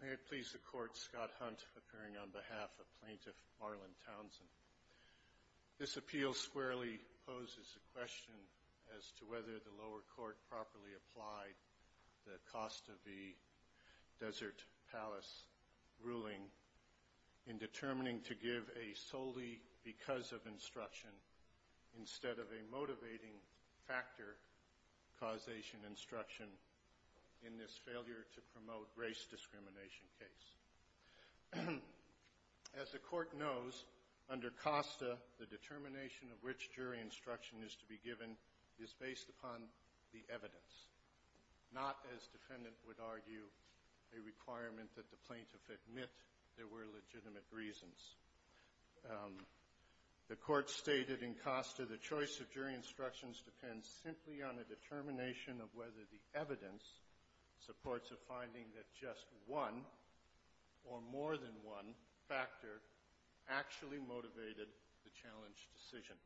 May it please the Court, Scott Hunt, appearing on behalf of Plaintiff Marlon Townsend. This appeal squarely poses a question as to whether the lower court properly applied the cost-of-the-desert-palace ruling in determining to give a solely because-of instruction instead of a motivating-factor causation instruction in this failure-to-promote-race-discrimination case. As the Court knows, under COSTA, the determination of which jury instruction is to be given is based upon the evidence, not, as defendant would argue, a requirement that the plaintiff admit there were legitimate reasons. The Court stated in COSTA the choice of jury instructions depends simply on a determination of whether the evidence supports a finding that just one, or more than one, factor actually motivated the challenge decision.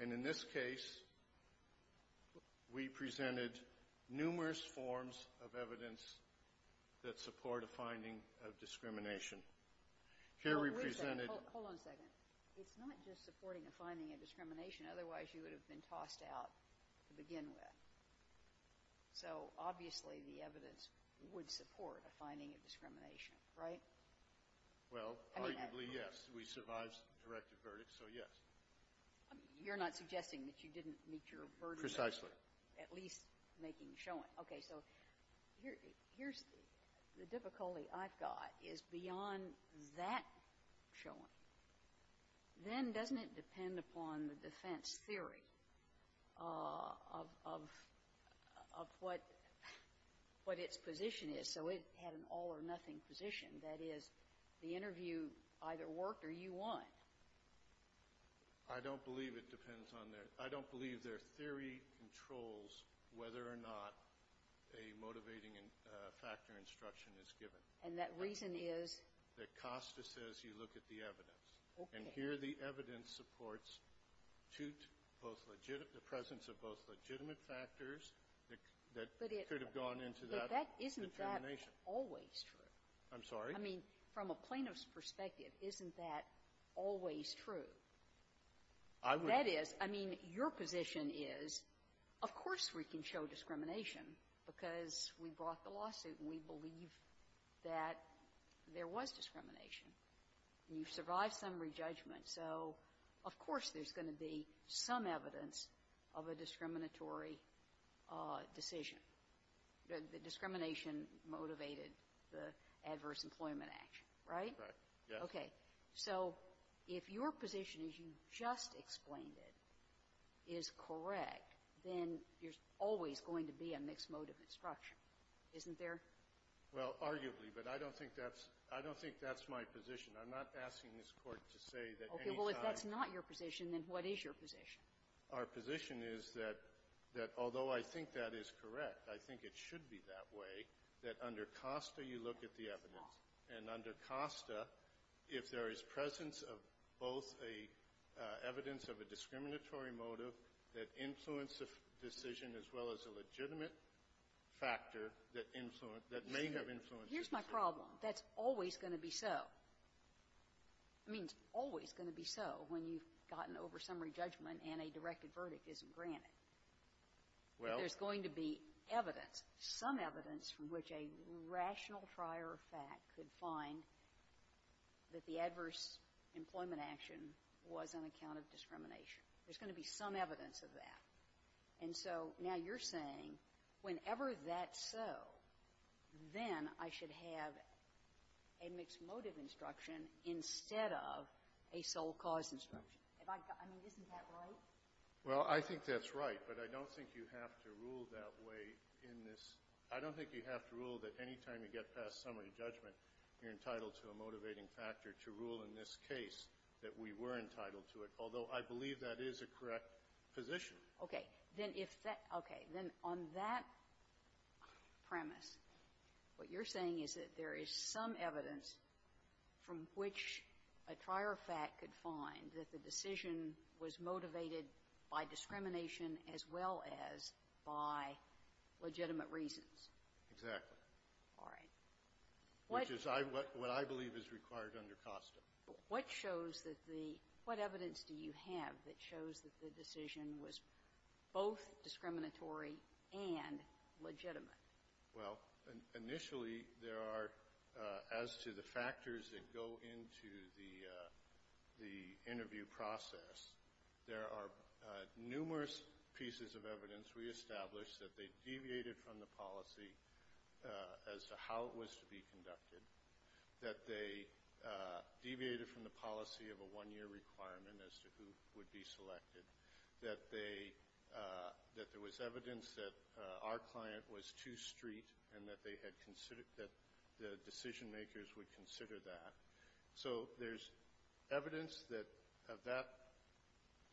And in this case, we presented numerous forms of evidence that support a finding of discrimination. Here we presented — Hold on a second. It's not just supporting a finding of discrimination. Otherwise, you would have been tossed out to begin with. So, obviously, the evidence would support a finding of discrimination, right? Well, arguably, yes. We survived the directive verdict, so yes. You're not suggesting that you didn't meet your burden of — Precisely. — at least making showing. Okay. So here's the difficulty I've got is beyond that showing, then doesn't it depend upon the defense theory of what its position is? So it had an all-or-nothing position. That is, the interview either worked or you won. I don't believe it depends on their — I don't believe their theory controls whether or not a motivating factor instruction is given. And that reason is? That Costa says you look at the evidence. Okay. And here the evidence supports two — both — the presence of both legitimate factors that could have gone into that determination. But isn't that always true? I'm sorry? I mean, from a plaintiff's perspective, isn't that always true? I would — That is — I mean, your position is, of course we can show discrimination because we brought the lawsuit and we believe that there was discrimination. You survived summary judgment. So of course there's going to be some evidence of a discriminatory decision. The discrimination motivated the Adverse Employment Act, right? Right. Yes. Okay. So if your position, as you just explained it, is correct, then there's always going to be a mixed mode of instruction, isn't there? Well, arguably. But I don't think that's — I don't think that's my position. I'm not asking this Court to say that any time — Okay. Well, if that's not your position, then what is your position? Our position is that although I think that is correct, I think it should be that way, that under Costa you look at the evidence. And under Costa, if there is presence of both a evidence of a discriminatory motive that influenced the decision as well as a legitimate factor that influenced — that may have influenced the decision. Here's my problem. That's always going to be so. I mean, it's always going to be so when you've gotten over summary judgment and a directed verdict isn't granted. Well — But there's going to be evidence, some evidence from which a rational trier of fact could find that the adverse employment action was an account of discrimination. There's going to be some evidence of that. And so now you're saying whenever that's so, then I should have a mixed motive instruction instead of a sole cause instruction. If I — I mean, isn't that right? Well, I think that's right. But I don't think you have to rule that way in this. I don't think you have to rule that any time you get past summary judgment, you're entitled to a motivating factor to rule in this case that we were entitled to it, although I believe that is a correct position. Okay. Then if that — okay. Then on that premise, what you're saying is that there is some evidence from which a trier of fact could find that the decision was motivated by discrimination as well as by legitimate reasons. Exactly. All right. Which is what I believe is required under COSTA. What shows that the — what evidence do you have that shows that the decision was both discriminatory and legitimate? Well, initially there are, as to the factors that go into the interview process, there are numerous pieces of evidence we established that they deviated from the policy as to how it was to be conducted, that they deviated from the policy of a one-year requirement as to who would be selected, that they — that there was evidence that our client was too street and that they had considered — that the decision-makers would consider that. So there's evidence that of that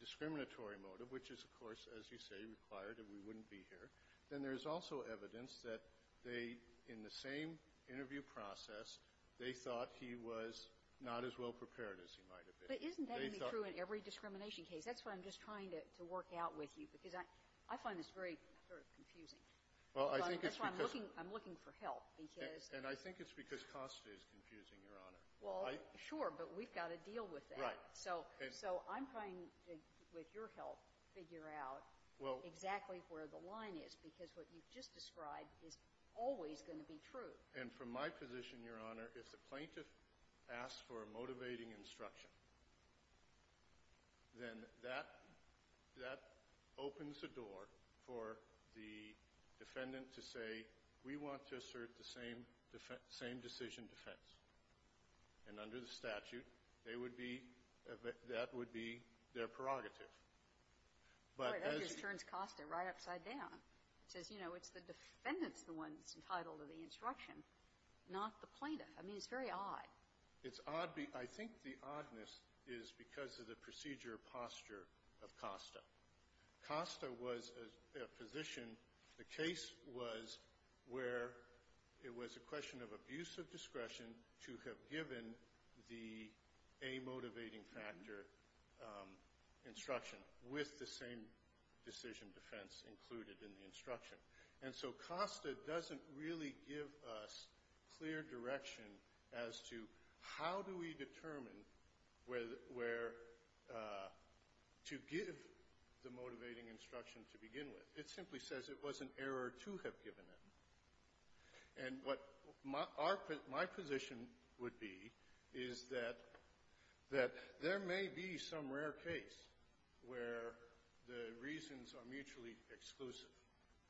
discriminatory motive, which is, of course, as you say, required and we wouldn't be here. Then there's also evidence that they, in the same interview process, they thought he was not as well-prepared as he might have been. But isn't that going to be true in every discrimination case? That's what I'm just trying to work out with you, because I find this very sort of confusing. Well, I think it's because — That's why I'm looking for help, because — And I think it's because COSTA is confusing, Your Honor. Well, sure, but we've got to deal with that. Right. So I'm trying to, with your help, figure out exactly where the line is, because what you've just described is always going to be true. And from my position, Your Honor, if the plaintiff asks for a motivating instruction, then that opens the door for the defendant to say, we want to assert the same decision defense. And under the statute, they would be — that would be their prerogative. But as — That just turns COSTA right upside down. It says, you know, it's the defendant's the one that's entitled to the instruction, not the plaintiff. I mean, it's very odd. It's odd. I think the oddness is because of the procedure posture of COSTA. COSTA was a position — the case was where it was a question of abuse of discretion to have given the a motivating factor instruction with the same decision defense included in the instruction. And so COSTA doesn't really give us clear direction as to how do we determine where to give the motivating instruction to begin with. It simply says it was an error to have given it. And what my position would be is that there may be some rare case where the reasons are mutually exclusive.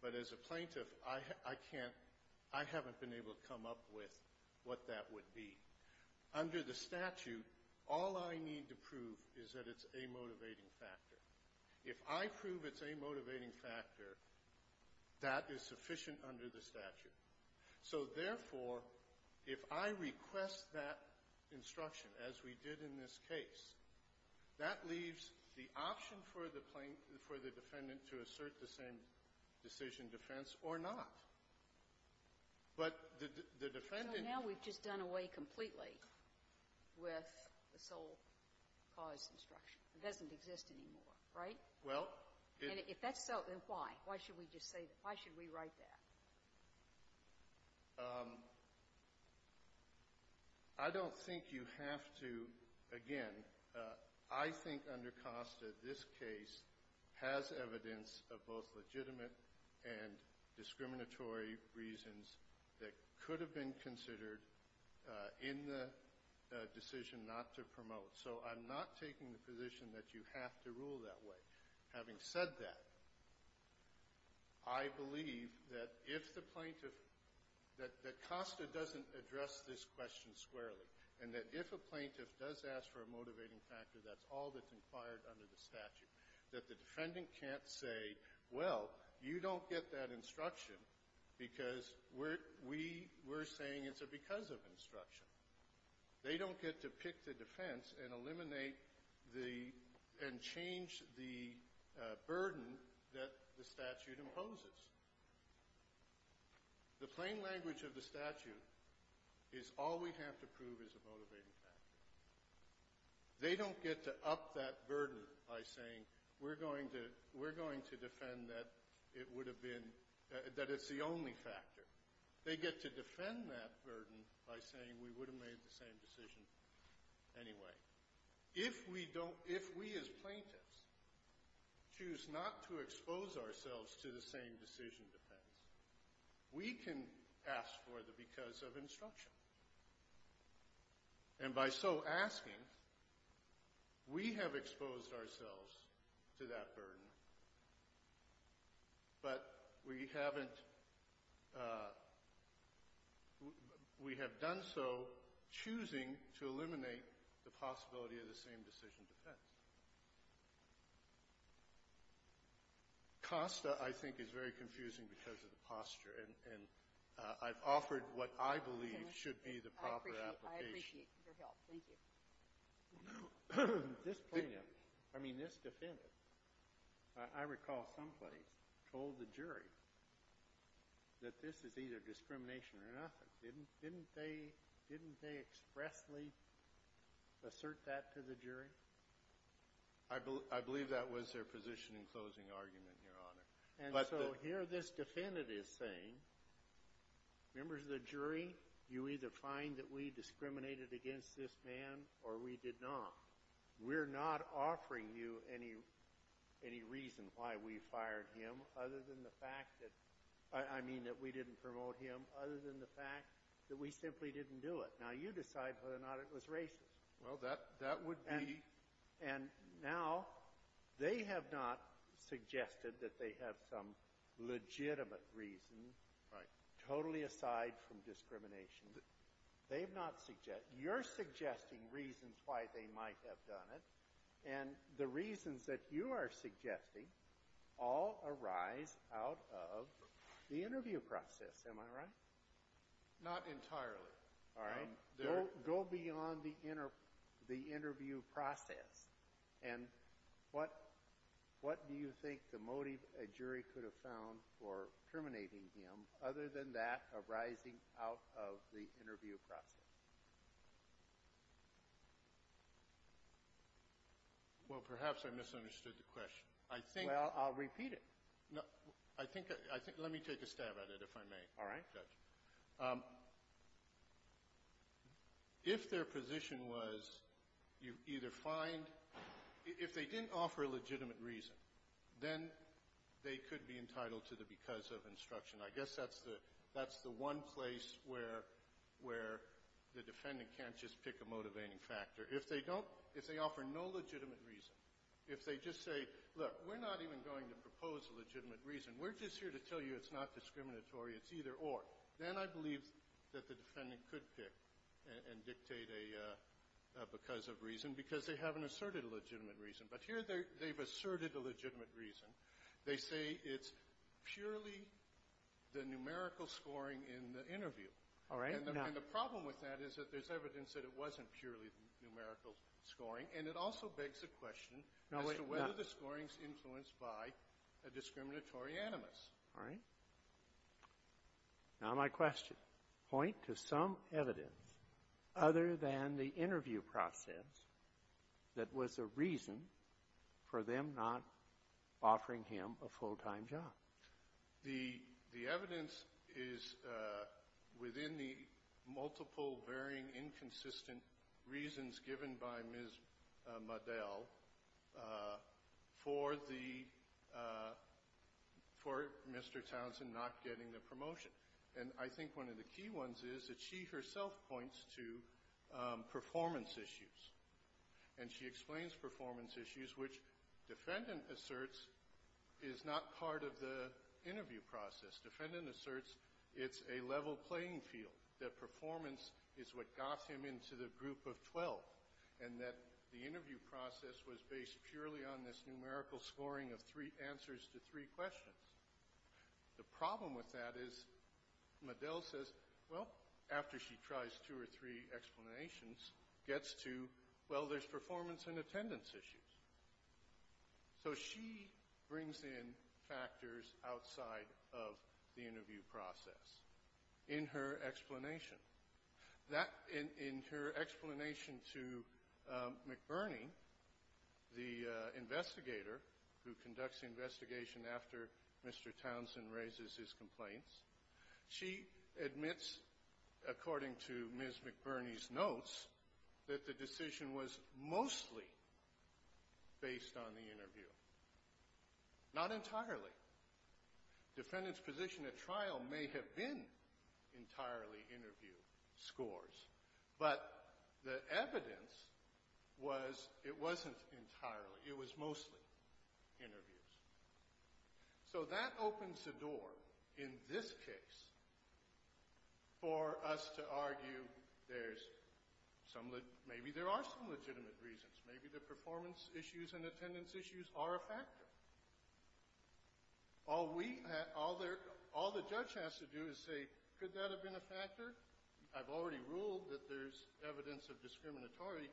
But as a plaintiff, I can't — I haven't been able to come up with what that would be. Under the statute, all I need to prove is that it's a motivating factor. If I prove it's a motivating factor, that is sufficient under the statute. So therefore, if I request that instruction, as we did in this case, that leaves the option for the defendant to assert the same decision defense or not. But the defendant — So now we've just done away completely with the sole cause instruction. It doesn't exist anymore, right? Well, it — And if that's so, then why? Why should we just say that? Why should we write that? I don't think you have to — again, I think under Costa, this case has evidence of both legitimate and discriminatory reasons that could have been considered in the decision not to promote. So I'm not taking the position that you have to rule that way. Having said that, I believe that if the plaintiff — that Costa doesn't address this question squarely and that if a plaintiff does ask for a motivating factor, that's all that's inquired under the statute, that the defendant can't say, well, you don't get that instruction because we're saying it's because of instruction. They don't get to pick the defense and eliminate the — and change the burden that the statute imposes. The plain language of the statute is all we have to prove is a motivating factor. They don't get to up that burden by saying, we're going to defend that it would have been — that it's the only factor. They get to defend that burden by saying, we would have made the same decision anyway. If we don't — if we as plaintiffs choose not to expose ourselves to the same decision defense, we can ask for the because of instruction. And by so asking, we have exposed ourselves to that burden, but we haven't — we have done so choosing to eliminate the possibility of the same decision defense. Kosta, I think, is very confusing because of the posture. And I've offered what I believe should be the proper application. I appreciate your help. Thank you. This plaintiff, I mean, this defendant, I recall someplace, told the jury that this is either discrimination or nothing. Didn't they expressly assert that to the jury? I believe that was their position in closing argument, Your Honor. And so here this defendant is saying, members of the jury, you either find that we discriminated against this man or we did not. We're not offering you any reason why we fired him other than the fact that — I mean, that we didn't promote him other than the fact that we simply didn't do it. Now, you decide whether or not it was racist. Well, that would be — And now they have not suggested that they have some legitimate reason — Right. — totally aside from discrimination. They have not — you're suggesting reasons why they might have done it. And the reasons that you are suggesting all arise out of the interview process. Am I right? Not entirely. All right. Go beyond the interview process. And what do you think the motive a jury could have found for terminating him other than that arising out of the interview process? Well, perhaps I misunderstood the question. I think — Well, I'll repeat it. No. I think — let me take a stab at it, if I may. All right. Judge, if their position was you either find — if they didn't offer a legitimate reason, then they could be entitled to the because of instruction. I guess that's the one place where the defendant can't just pick a motivating factor. If they don't — if they offer no legitimate reason, if they just say, look, we're not even going to propose a legitimate reason, we're just here to tell you it's not discriminatory, it's either or, then I believe that the defendant could pick and dictate a because of reason because they haven't asserted a legitimate reason. But here they've asserted a legitimate reason. They say it's purely the numerical scoring in the interview. All right. No. And the problem with that is that there's evidence that it wasn't purely numerical scoring, and it also begs the question as to whether the scoring's influenced by a discriminatory animus. All right. Now my question. Point to some evidence other than the interview process that was a reason for them not offering him a full-time job. The evidence is within the multiple, varying, inconsistent reasons given by Ms. Muddell for the — for Mr. Townsend not getting the promotion. And I think one of the key ones is that she herself points to performance issues, and she explains performance issues, which defendant asserts is not part of the interview process. Defendant asserts it's a level playing field, that performance is what got him into the group of 12, and that the interview process was based purely on this numerical scoring of three answers to three questions. The problem with that is Muddell says, well, after she tries two or three explanations, gets to, well, there's performance and attendance issues. So she brings in factors outside of the interview process in her explanation. That — in her explanation to McBurney, the investigator who conducts the investigation after Mr. Townsend raises his complaints, she admits, according to the interview, not entirely. Defendant's position at trial may have been entirely interview scores, but the evidence was it wasn't entirely. It was mostly interviews. So that opens the door in this case for us to argue there's some — maybe there are some legitimate reasons. Maybe the performance issues and attendance issues are a factor. All we — all the judge has to do is say, could that have been a factor? I've already ruled that there's evidence of discriminatory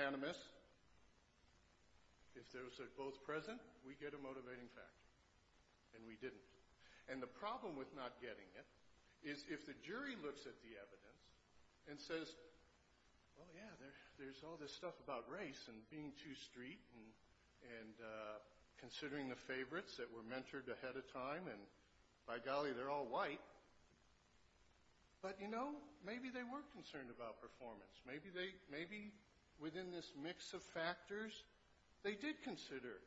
animus. If those are both present, we get a motivating factor, and we didn't. And the problem with not getting it is if the jury looks at the evidence and says, well, yeah, there's all this stuff about race and being too street and considering the favorites that were mentored ahead of time, and by golly, they're all white. But, you know, maybe they were concerned about performance. Maybe they — maybe within this mix of factors, they did consider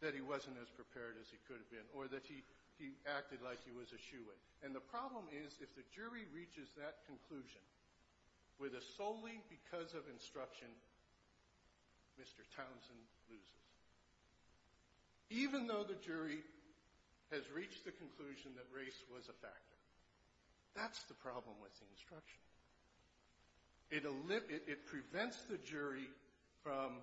that he wasn't as prepared as he could have been or that he acted like he was a shoo-in. And the problem is if the jury reaches that conclusion with a solely because of instruction, Mr. Townsend loses, even though the jury has reached the conclusion that race was a factor. It prevents the jury from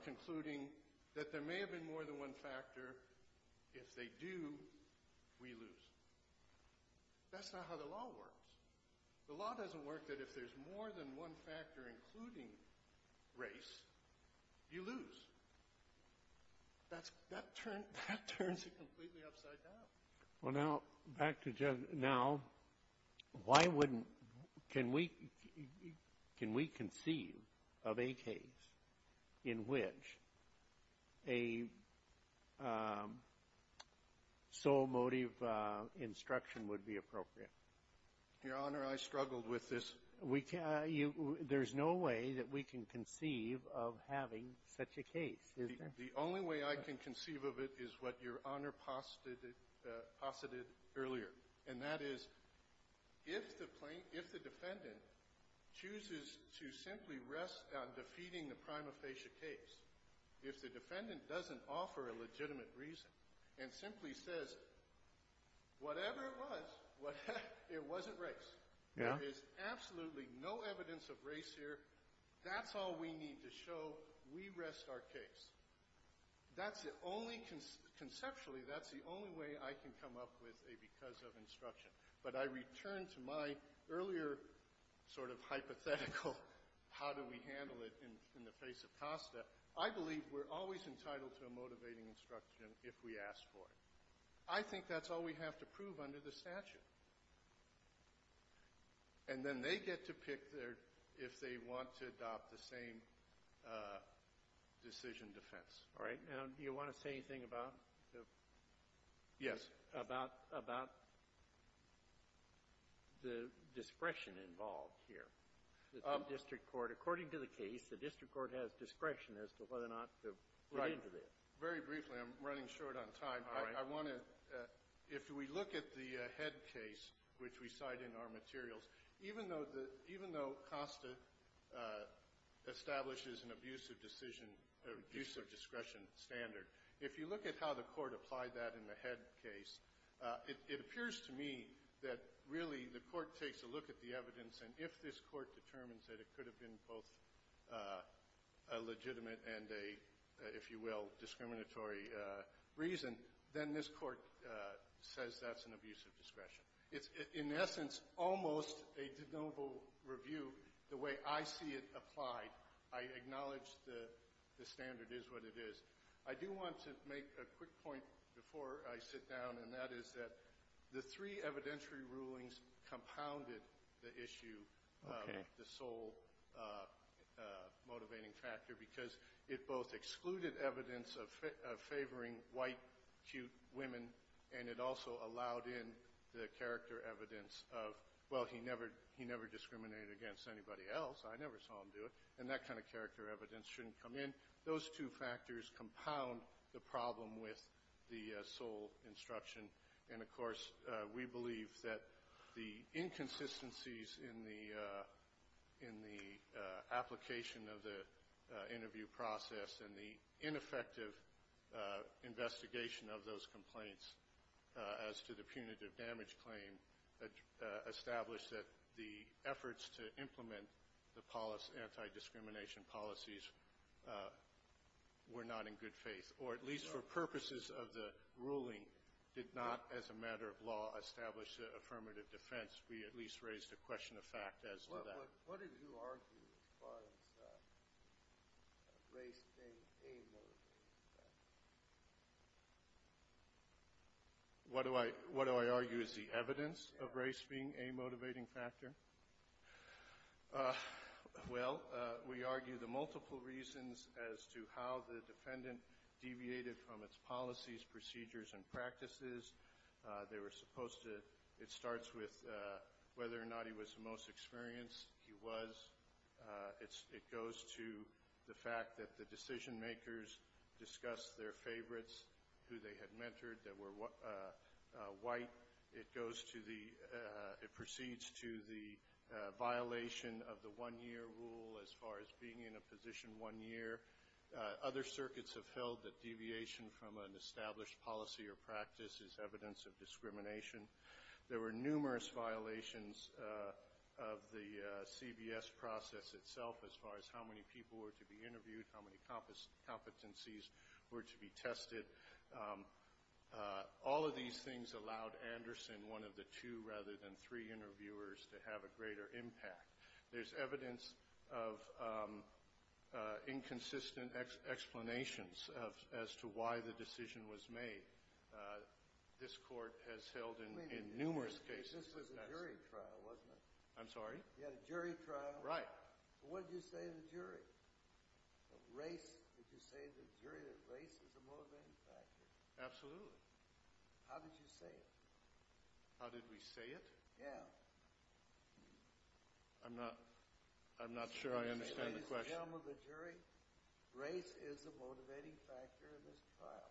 concluding that there may have been more than one factor. If they do, we lose. That's not how the law works. The law doesn't work that if there's more than one factor including race, you lose. That turns it completely upside down. Well, now, back to Judge — now, why wouldn't — can we — can we conceive of a case in which a sole motive instruction would be appropriate? Your Honor, I struggled with this. We can't — there's no way that we can conceive of having such a case, is there? The only way I can conceive of it is what Your Honor posited earlier, and that is if the defendant chooses to simply rest on defeating the prima facie case, if the defendant doesn't offer a legitimate reason and simply says, whatever it was, it wasn't race, there is absolutely no evidence of race here, that's all we need to show we rest our case. That's the only — conceptually, that's the only way I can come up with a because of instruction. But I return to my earlier sort of hypothetical how do we handle it in the face of Costa. I believe we're always entitled to a motivating instruction if we ask for it. I think that's all we have to prove under the statute. And then they get to pick if they want to adopt the same decision defense. All right. Now, do you want to say anything about the — Yes. — about the discretion involved here? The district court, according to the case, the district court has discretion as to whether or not to put into this. Right. Very briefly. I'm running short on time. All right. I want to — if we look at the head case, which we cite in our materials, even though the — even though Costa establishes an abusive decision — or use of discretion standard, if you look at how the court applied that in the head case, it appears to me that really the court takes a look at the evidence, and if this court determines that it could have been both a legitimate and a, if you will, discriminatory reason, then this court says that's an abusive discretion. It's, in essence, almost a de novo review the way I see it applied. I acknowledge the standard is what it is. I do want to make a quick point before I sit down, and that is that the three evidentiary rulings compounded the issue of the sole motivating factor because it both excluded evidence of favoring white, cute women, and it also allowed in the character evidence of, well, he never discriminated against anybody else. I never saw him do it. And that kind of character evidence shouldn't come in. Those two factors compound the problem with the sole instruction. And, of course, we believe that the inconsistencies in the application of the interview process and the ineffective investigation of those complaints as to the punitive damage claim established that the efforts to implement the anti-discrimination policies were not in good faith, or at least for purposes of the ruling did not, as a matter of law, establish an affirmative defense. We at least raised a question of fact as to that. What did you argue as far as race being a motivating factor? What do I argue is the evidence of race being a motivating factor? Well, we argue the multiple reasons as to how the defendant deviated from its policies, procedures, and practices. They were supposed to ‑‑ it starts with whether or not he was the most experienced. He was. It goes to the fact that the decision makers discussed their favorites who they had mentored that were white. It goes to the ‑‑ it proceeds to the violation of the one‑year rule as far as being in a position one year. Other circuits have held that deviation from an established policy or practice is evidence of discrimination. There were numerous violations of the CBS process itself as far as how many people were to be interviewed, how many competencies were to be tested. All of these things allowed Anderson, one of the two rather than three interviewers, to have a greater impact. There's evidence of inconsistent explanations as to why the decision was made. This court has held in numerous cases ‑‑ This was a jury trial, wasn't it? I'm sorry? You had a jury trial. Right. What did you say to the jury? Race. Did you say to the jury that race is a motivating factor? Absolutely. How did you say it? How did we say it? Yeah. I'm not ‑‑ I'm not sure I understand the question. Did you say to the gentleman, the jury, race is a motivating factor in this trial?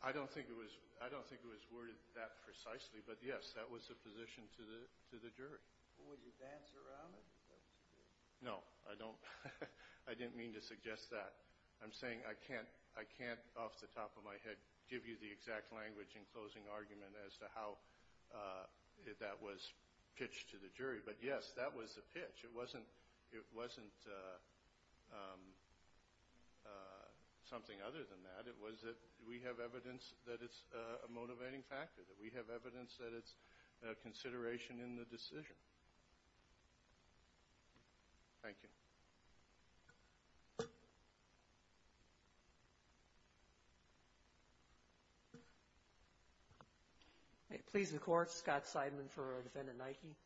I don't think it was ‑‑ I don't think it was worded that precisely, but, yes, that was the position to the jury. Would you dance around it? No. I don't ‑‑ I didn't mean to suggest that. I'm saying I can't off the top of my head give you the exact language in closing argument as to how that was pitched to the jury. But, yes, that was the pitch. It wasn't something other than that. It was that we have evidence that it's a motivating factor, that we have evidence that it's a consideration in the decision. Thank you. Please, the court. Scott Seidman for Defendant Nike.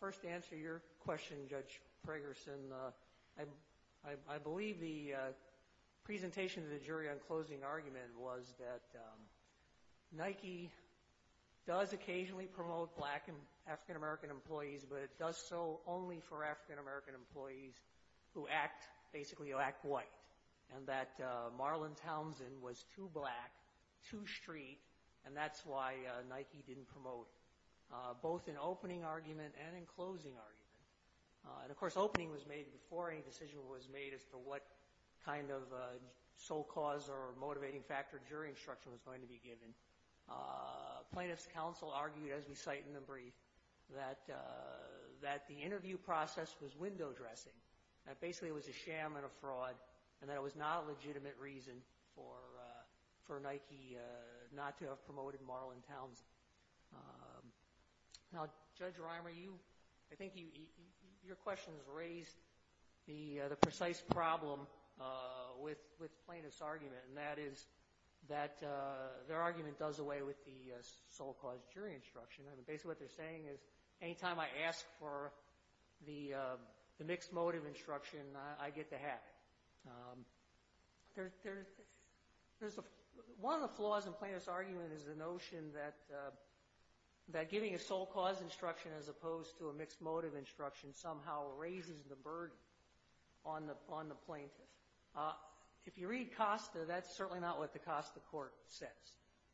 First, to answer your question, Judge Fragerson, I believe the presentation to the jury on closing argument was that Nike does occasionally promote black and African‑American employees, but it does so only for African‑American employees who act, basically, who act white, and that Marlon Townsend was too black, too street, and that's why Nike didn't promote him, both in opening argument and in closing argument. And, of course, opening was made before any decision was made as to what kind of sole cause or motivating factor jury instruction was going to be given. Plaintiff's counsel argued, as we cite in the brief, that the interview process was window dressing, that basically it was a sham and a fraud, and that it was not a legitimate reason for Nike not to have promoted Marlon Townsend. Now, Judge Reimer, I think your question has raised the precise problem with plaintiff's argument, and that is that their argument does away with the sole cause jury instruction. Basically, what they're saying is any time I ask for the mixed motive instruction, I get the hat. One of the flaws in plaintiff's argument is the notion that giving a sole cause instruction as opposed to a mixed motive instruction somehow raises the burden on the plaintiff. If you read Costa, that's certainly not what the Costa court says.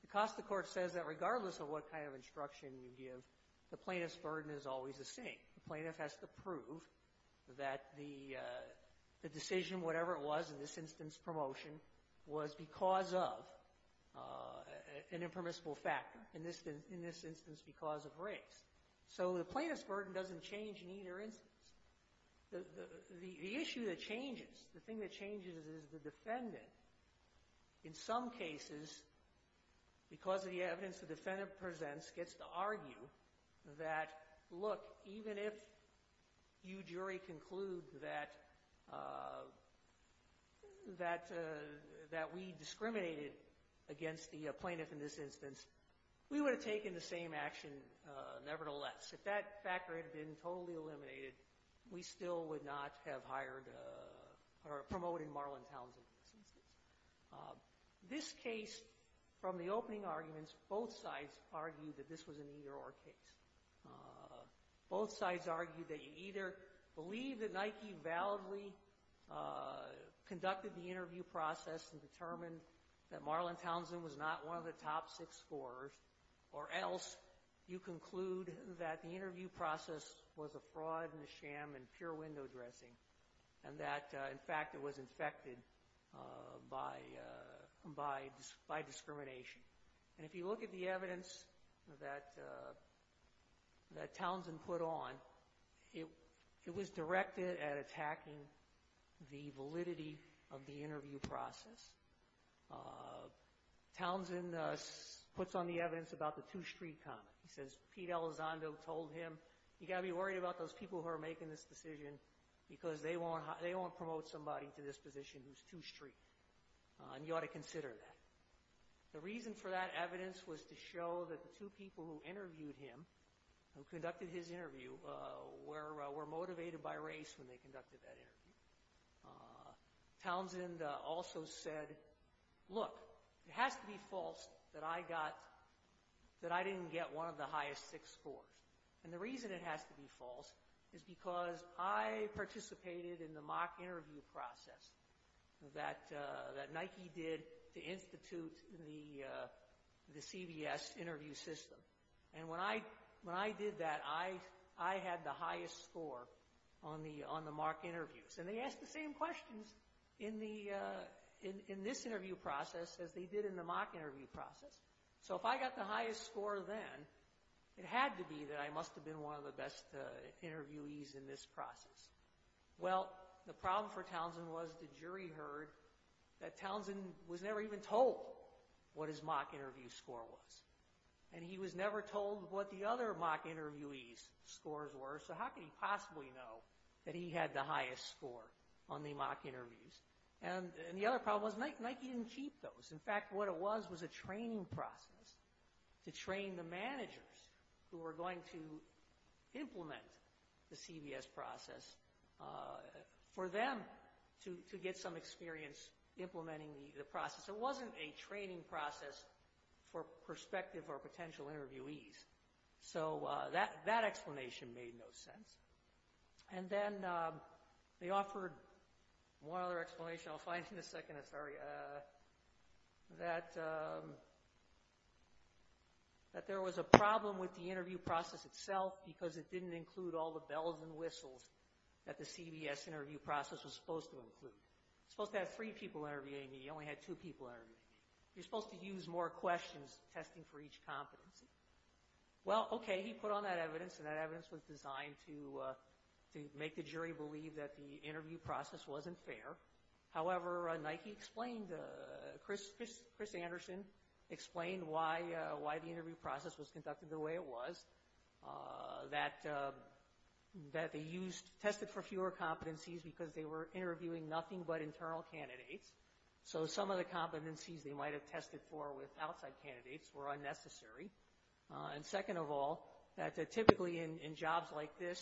The Costa court says that regardless of what kind of instruction you give, the plaintiff's burden is always the same. The plaintiff has to prove that the decision, whatever it was in this instance, promotion, was because of an impermissible factor, in this instance because of race. So the plaintiff's burden doesn't change in either instance. The issue that changes, the thing that changes is the defendant, in some cases, because of the evidence the defendant presents, gets to argue that, look, even if you jury conclude that we discriminated against the plaintiff in this instance, we would have taken the same action nevertheless. If that factor had been totally eliminated, we still would not have hired or promoted Marlon Townsend. This case, from the opening arguments, both sides argue that this was an either-or case. Both sides argue that you either believe that Nike validly conducted the interview process and determined that Marlon Townsend was not one of the top six scorers, or else you conclude that the interview process was a fraud and a sham and pure window dressing and that, in fact, it was infected by discrimination. And if you look at the evidence that Townsend put on, it was directed at attacking the validity of the interview process. Townsend puts on the evidence about the two-street comment. He says Pete Elizondo told him, you've got to be worried about those people who are making this decision because they won't promote somebody to this position who's two-street, and you ought to consider that. The reason for that evidence was to show that the two people who interviewed him, who conducted his interview, were motivated by race when they conducted that interview. Townsend also said, look, it has to be false that I didn't get one of the highest six scores. And the reason it has to be false is because I participated in the mock interview process that Nike did to institute the CBS interview system. And when I did that, I had the highest score on the mock interviews. And they asked the same questions in this interview process as they did in the mock interview process. So if I got the highest score then, it had to be that I must have been one of the best interviewees in this process. Well, the problem for Townsend was the jury heard that Townsend was never even told what his mock interview score was. And he was never told what the other mock interviewees' scores were, so how could he possibly know that he had the highest score on the mock interviews? And the other problem was Nike didn't keep those. In fact, what it was was a training process to train the managers who were going to implement the CBS process for them to get some experience implementing the process. It wasn't a training process for prospective or potential interviewees. So that explanation made no sense. And then they offered one other explanation I'll find in a second, sorry, that there was a problem with the interview process itself because it didn't include all the bells and whistles that the CBS interview process was supposed to include. You're supposed to have three people interviewing you. You only had two people interviewing you. You're supposed to use more questions testing for each competency. Well, okay, he put on that evidence, and that evidence was designed to make the jury believe that the interview process wasn't fair. However, Nike explained, Chris Anderson explained why the interview process was conducted the way it was, that they used, tested for fewer competencies because they were interviewing nothing but internal candidates. So some of the competencies they might have tested for with outside candidates were unnecessary. And second of all, that typically in jobs like this,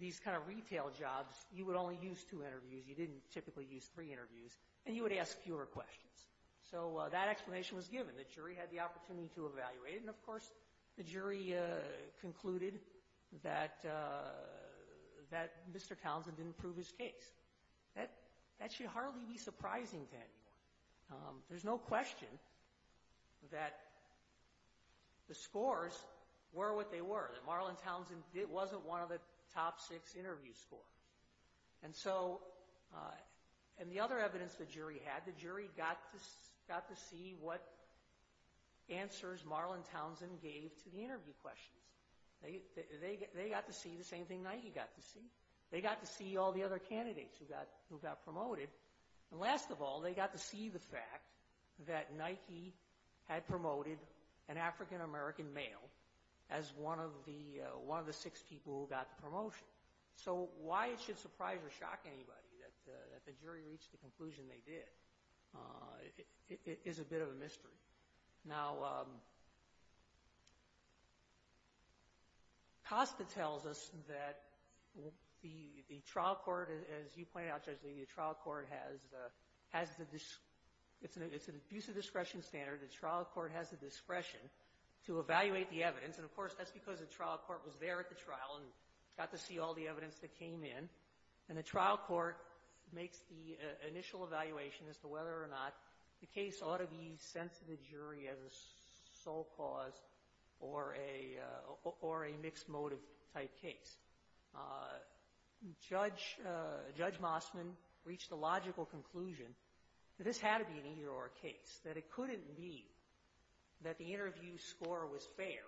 these kind of retail jobs, you would only use two interviews. You didn't typically use three interviews. And you would ask fewer questions. So that explanation was given. The jury had the opportunity to evaluate. And, of course, the jury concluded that Mr. Townsend didn't prove his case. That should hardly be surprising to anyone. There's no question that the scores were what they were, that Marlon Townsend wasn't one of the top six interview scores. And so, and the other evidence the jury had, the jury got to see what answers Marlon Townsend gave to the interview questions. They got to see the same thing Nike got to see. They got to see all the other candidates who got promoted. And last of all, they got to see the fact that Nike had promoted an African-American male as one of the six people who got the promotion. So why it should surprise or shock anybody that the jury reached the conclusion they did is a bit of a mystery. Now, COSTA tells us that the trial court, as you pointed out, Judge Lee, the trial court has the — it's an abuse of discretion standard. The trial court has the discretion to evaluate the evidence. And, of course, that's because the trial court was there at the trial and got to see all the evidence that came in. And the trial court makes the initial evaluation as to whether or not the case ought to be sent to the jury as a sole cause or a mixed-motive type case. Judge — Judge Mossman reached a logical conclusion that this had to be an either-or case, that it couldn't be that the interview score was fair,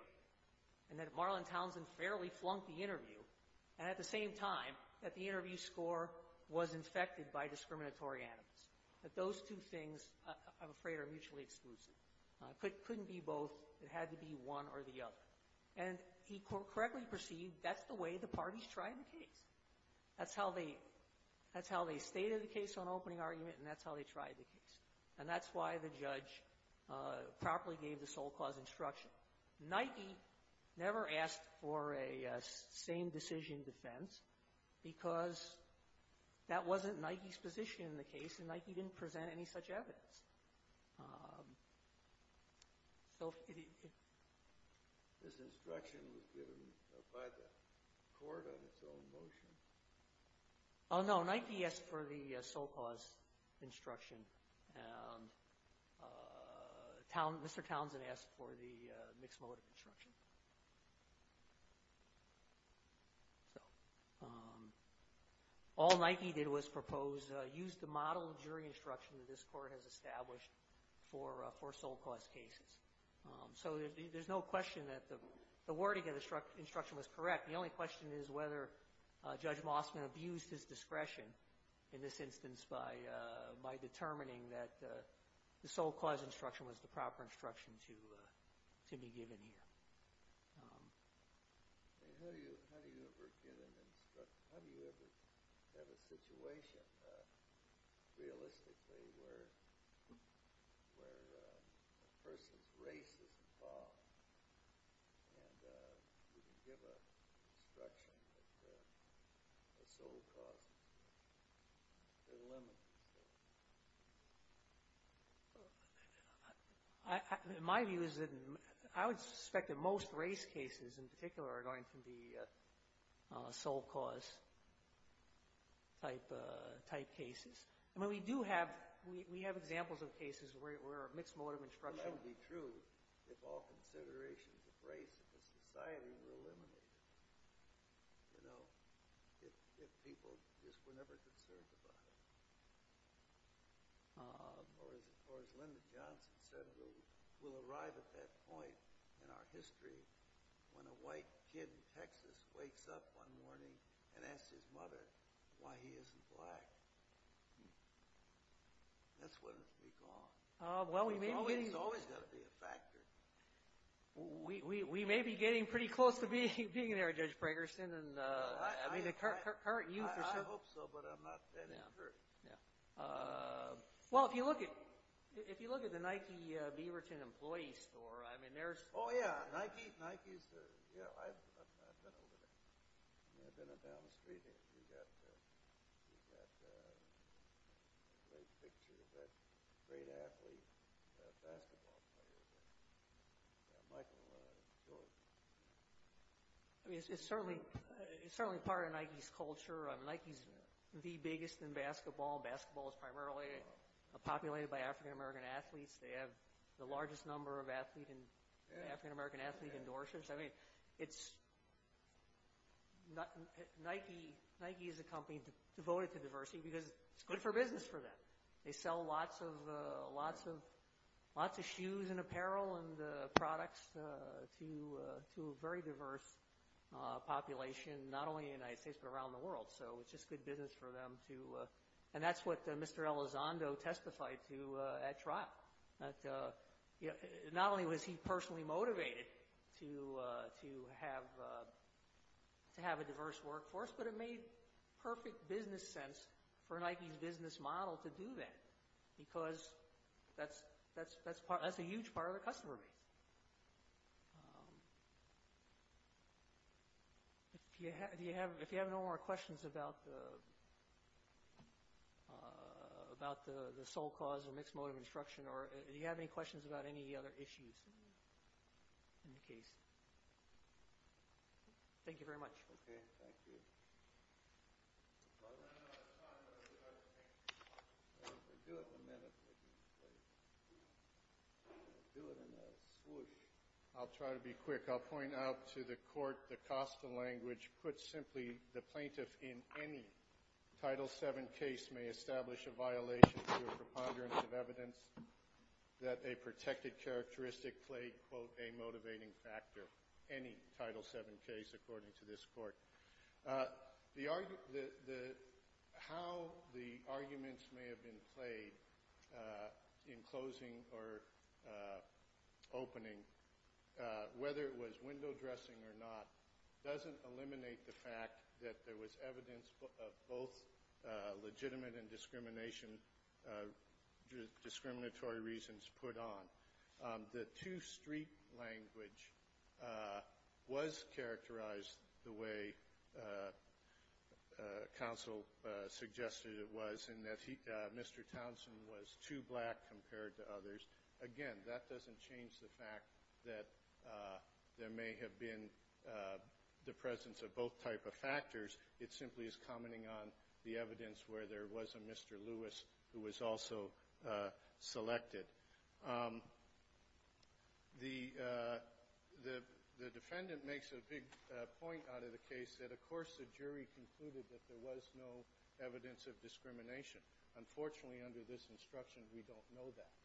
and that Marlon Townsend fairly flunked the interview, and at the same time that the interview score was infected by discriminatory animus, that those two things, I'm afraid, are mutually exclusive. It couldn't be both. It had to be one or the other. And he correctly perceived that's the way the parties tried the case. That's how they — that's how they stated the case on opening argument, and that's how they tried the case. And that's why the judge properly gave the sole cause instruction. Nike never asked for a same-decision defense because that wasn't Nike's position in the case, and Nike didn't present any such evidence. So if — This instruction was given by the court on its own motion. Oh, no. Nike asked for the sole cause instruction, and Mr. Townsend asked for the mixed-motive instruction. So all Nike did was propose — used the model of jury instruction that this court has established for sole cause cases. So there's no question that the wording of the instruction was correct. The only question is whether Judge Mossman abused his discretion in this instance by determining that the sole cause instruction was the proper instruction to be given here. I mean, how do you ever get an instruction? How do you ever have a situation, realistically, where a person's race is involved and you can give an instruction that the sole cause is limited? My view is that — I would suspect that most race cases, in particular, are going to be sole cause-type cases. I mean, we do have — we have examples of cases where a mixed-motive instruction — if all considerations of race in the society were eliminated, you know, if people just were never concerned about it. Or as Lyndon Johnson said, we'll arrive at that point in our history when a white kid in Texas wakes up one morning and asks his mother why he isn't black. That's when it'll be gone. Well, we may be getting — It's always got to be a factor. We may be getting pretty close to being there, Judge Pragerson. I mean, the current youth are so — I hope so, but I'm not that incurred. Yeah. Well, if you look at the Nike Beaverton employee store, I mean, there's — Oh, yeah. Nike's — yeah, I've been over there. I've been down the street. We've got a great picture of that great athlete, basketball player, Michael Jordan. I mean, it's certainly part of Nike's culture. I mean, Nike's the biggest in basketball. Basketball is primarily populated by African-American athletes. They have the largest number of African-American athlete endorsements. I mean, it's — Nike is a company devoted to diversity because it's good for business for them. They sell lots of shoes and apparel and products to a very diverse population, not only in the United States but around the world. So it's just good business for them to — and that's what Mr. Elizondo testified to at trial. Not only was he personally motivated to have a diverse workforce, but it made perfect business sense for Nike's business model to do that because that's a huge part of their customer base. Do you have — if you have no more questions about the sole cause or mixed motive instruction, or do you have any questions about any other issues in the case? Thank you very much. Okay. Thank you. Well, I don't have enough time. I'm going to try to think. I'll do it in a minute. I'll do it in a swoosh. I'll try to be quick. I'll point out to the court the cost of language. Put simply, the plaintiff in any Title VII case may establish a violation to a preponderance of evidence that a protected characteristic played, quote, a motivating factor, any Title VII case, according to this court. How the arguments may have been played in closing or opening, whether it was window dressing or not, doesn't eliminate the fact that there was evidence of both legitimate and discriminatory reasons put on. The two-street language was characterized the way counsel suggested it was, in that Mr. Townsend was too black compared to others. Again, that doesn't change the fact that there may have been the presence of both type of factors. It simply is commenting on the evidence where there was a Mr. Lewis who was also selected. The defendant makes a big point out of the case that, of course, the jury concluded that there was no evidence of discrimination. Unfortunately, under this instruction, we don't know that.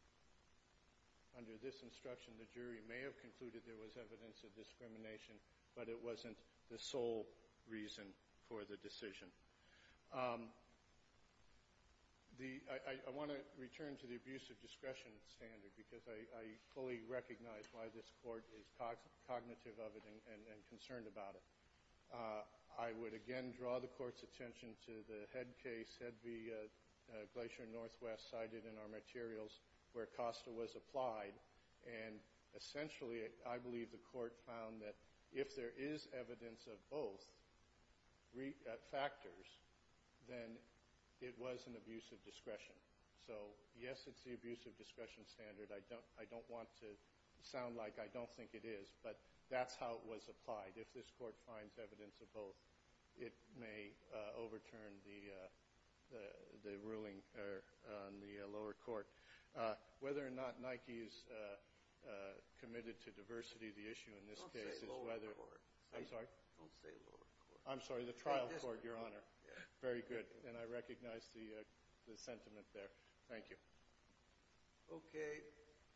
Under this instruction, the jury may have concluded there was evidence of discrimination, but it wasn't the sole reason for the decision. I want to return to the abuse of discretion standard because I fully recognize why this court is cognitive of it and concerned about it. I would again draw the court's attention to the head case, Head v. Glacier Northwest, cited in our materials where Costa was applied. And essentially, I believe the court found that if there is evidence of both factors, then it was an abuse of discretion. So, yes, it's the abuse of discretion standard. I don't want to sound like I don't think it is, but that's how it was applied. If this court finds evidence of both, it may overturn the ruling on the lower court. Whether or not Nike is committed to diversity, the issue in this case is whether – Don't say lower court. I'm sorry? Don't say lower court. I'm sorry, the trial court, Your Honor. Very good. And I recognize the sentiment there. Thank you. Okay.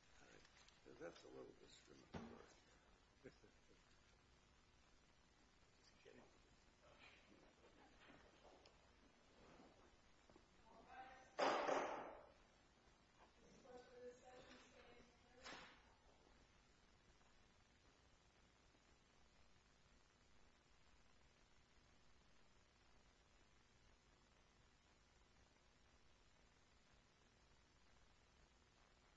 Thank you.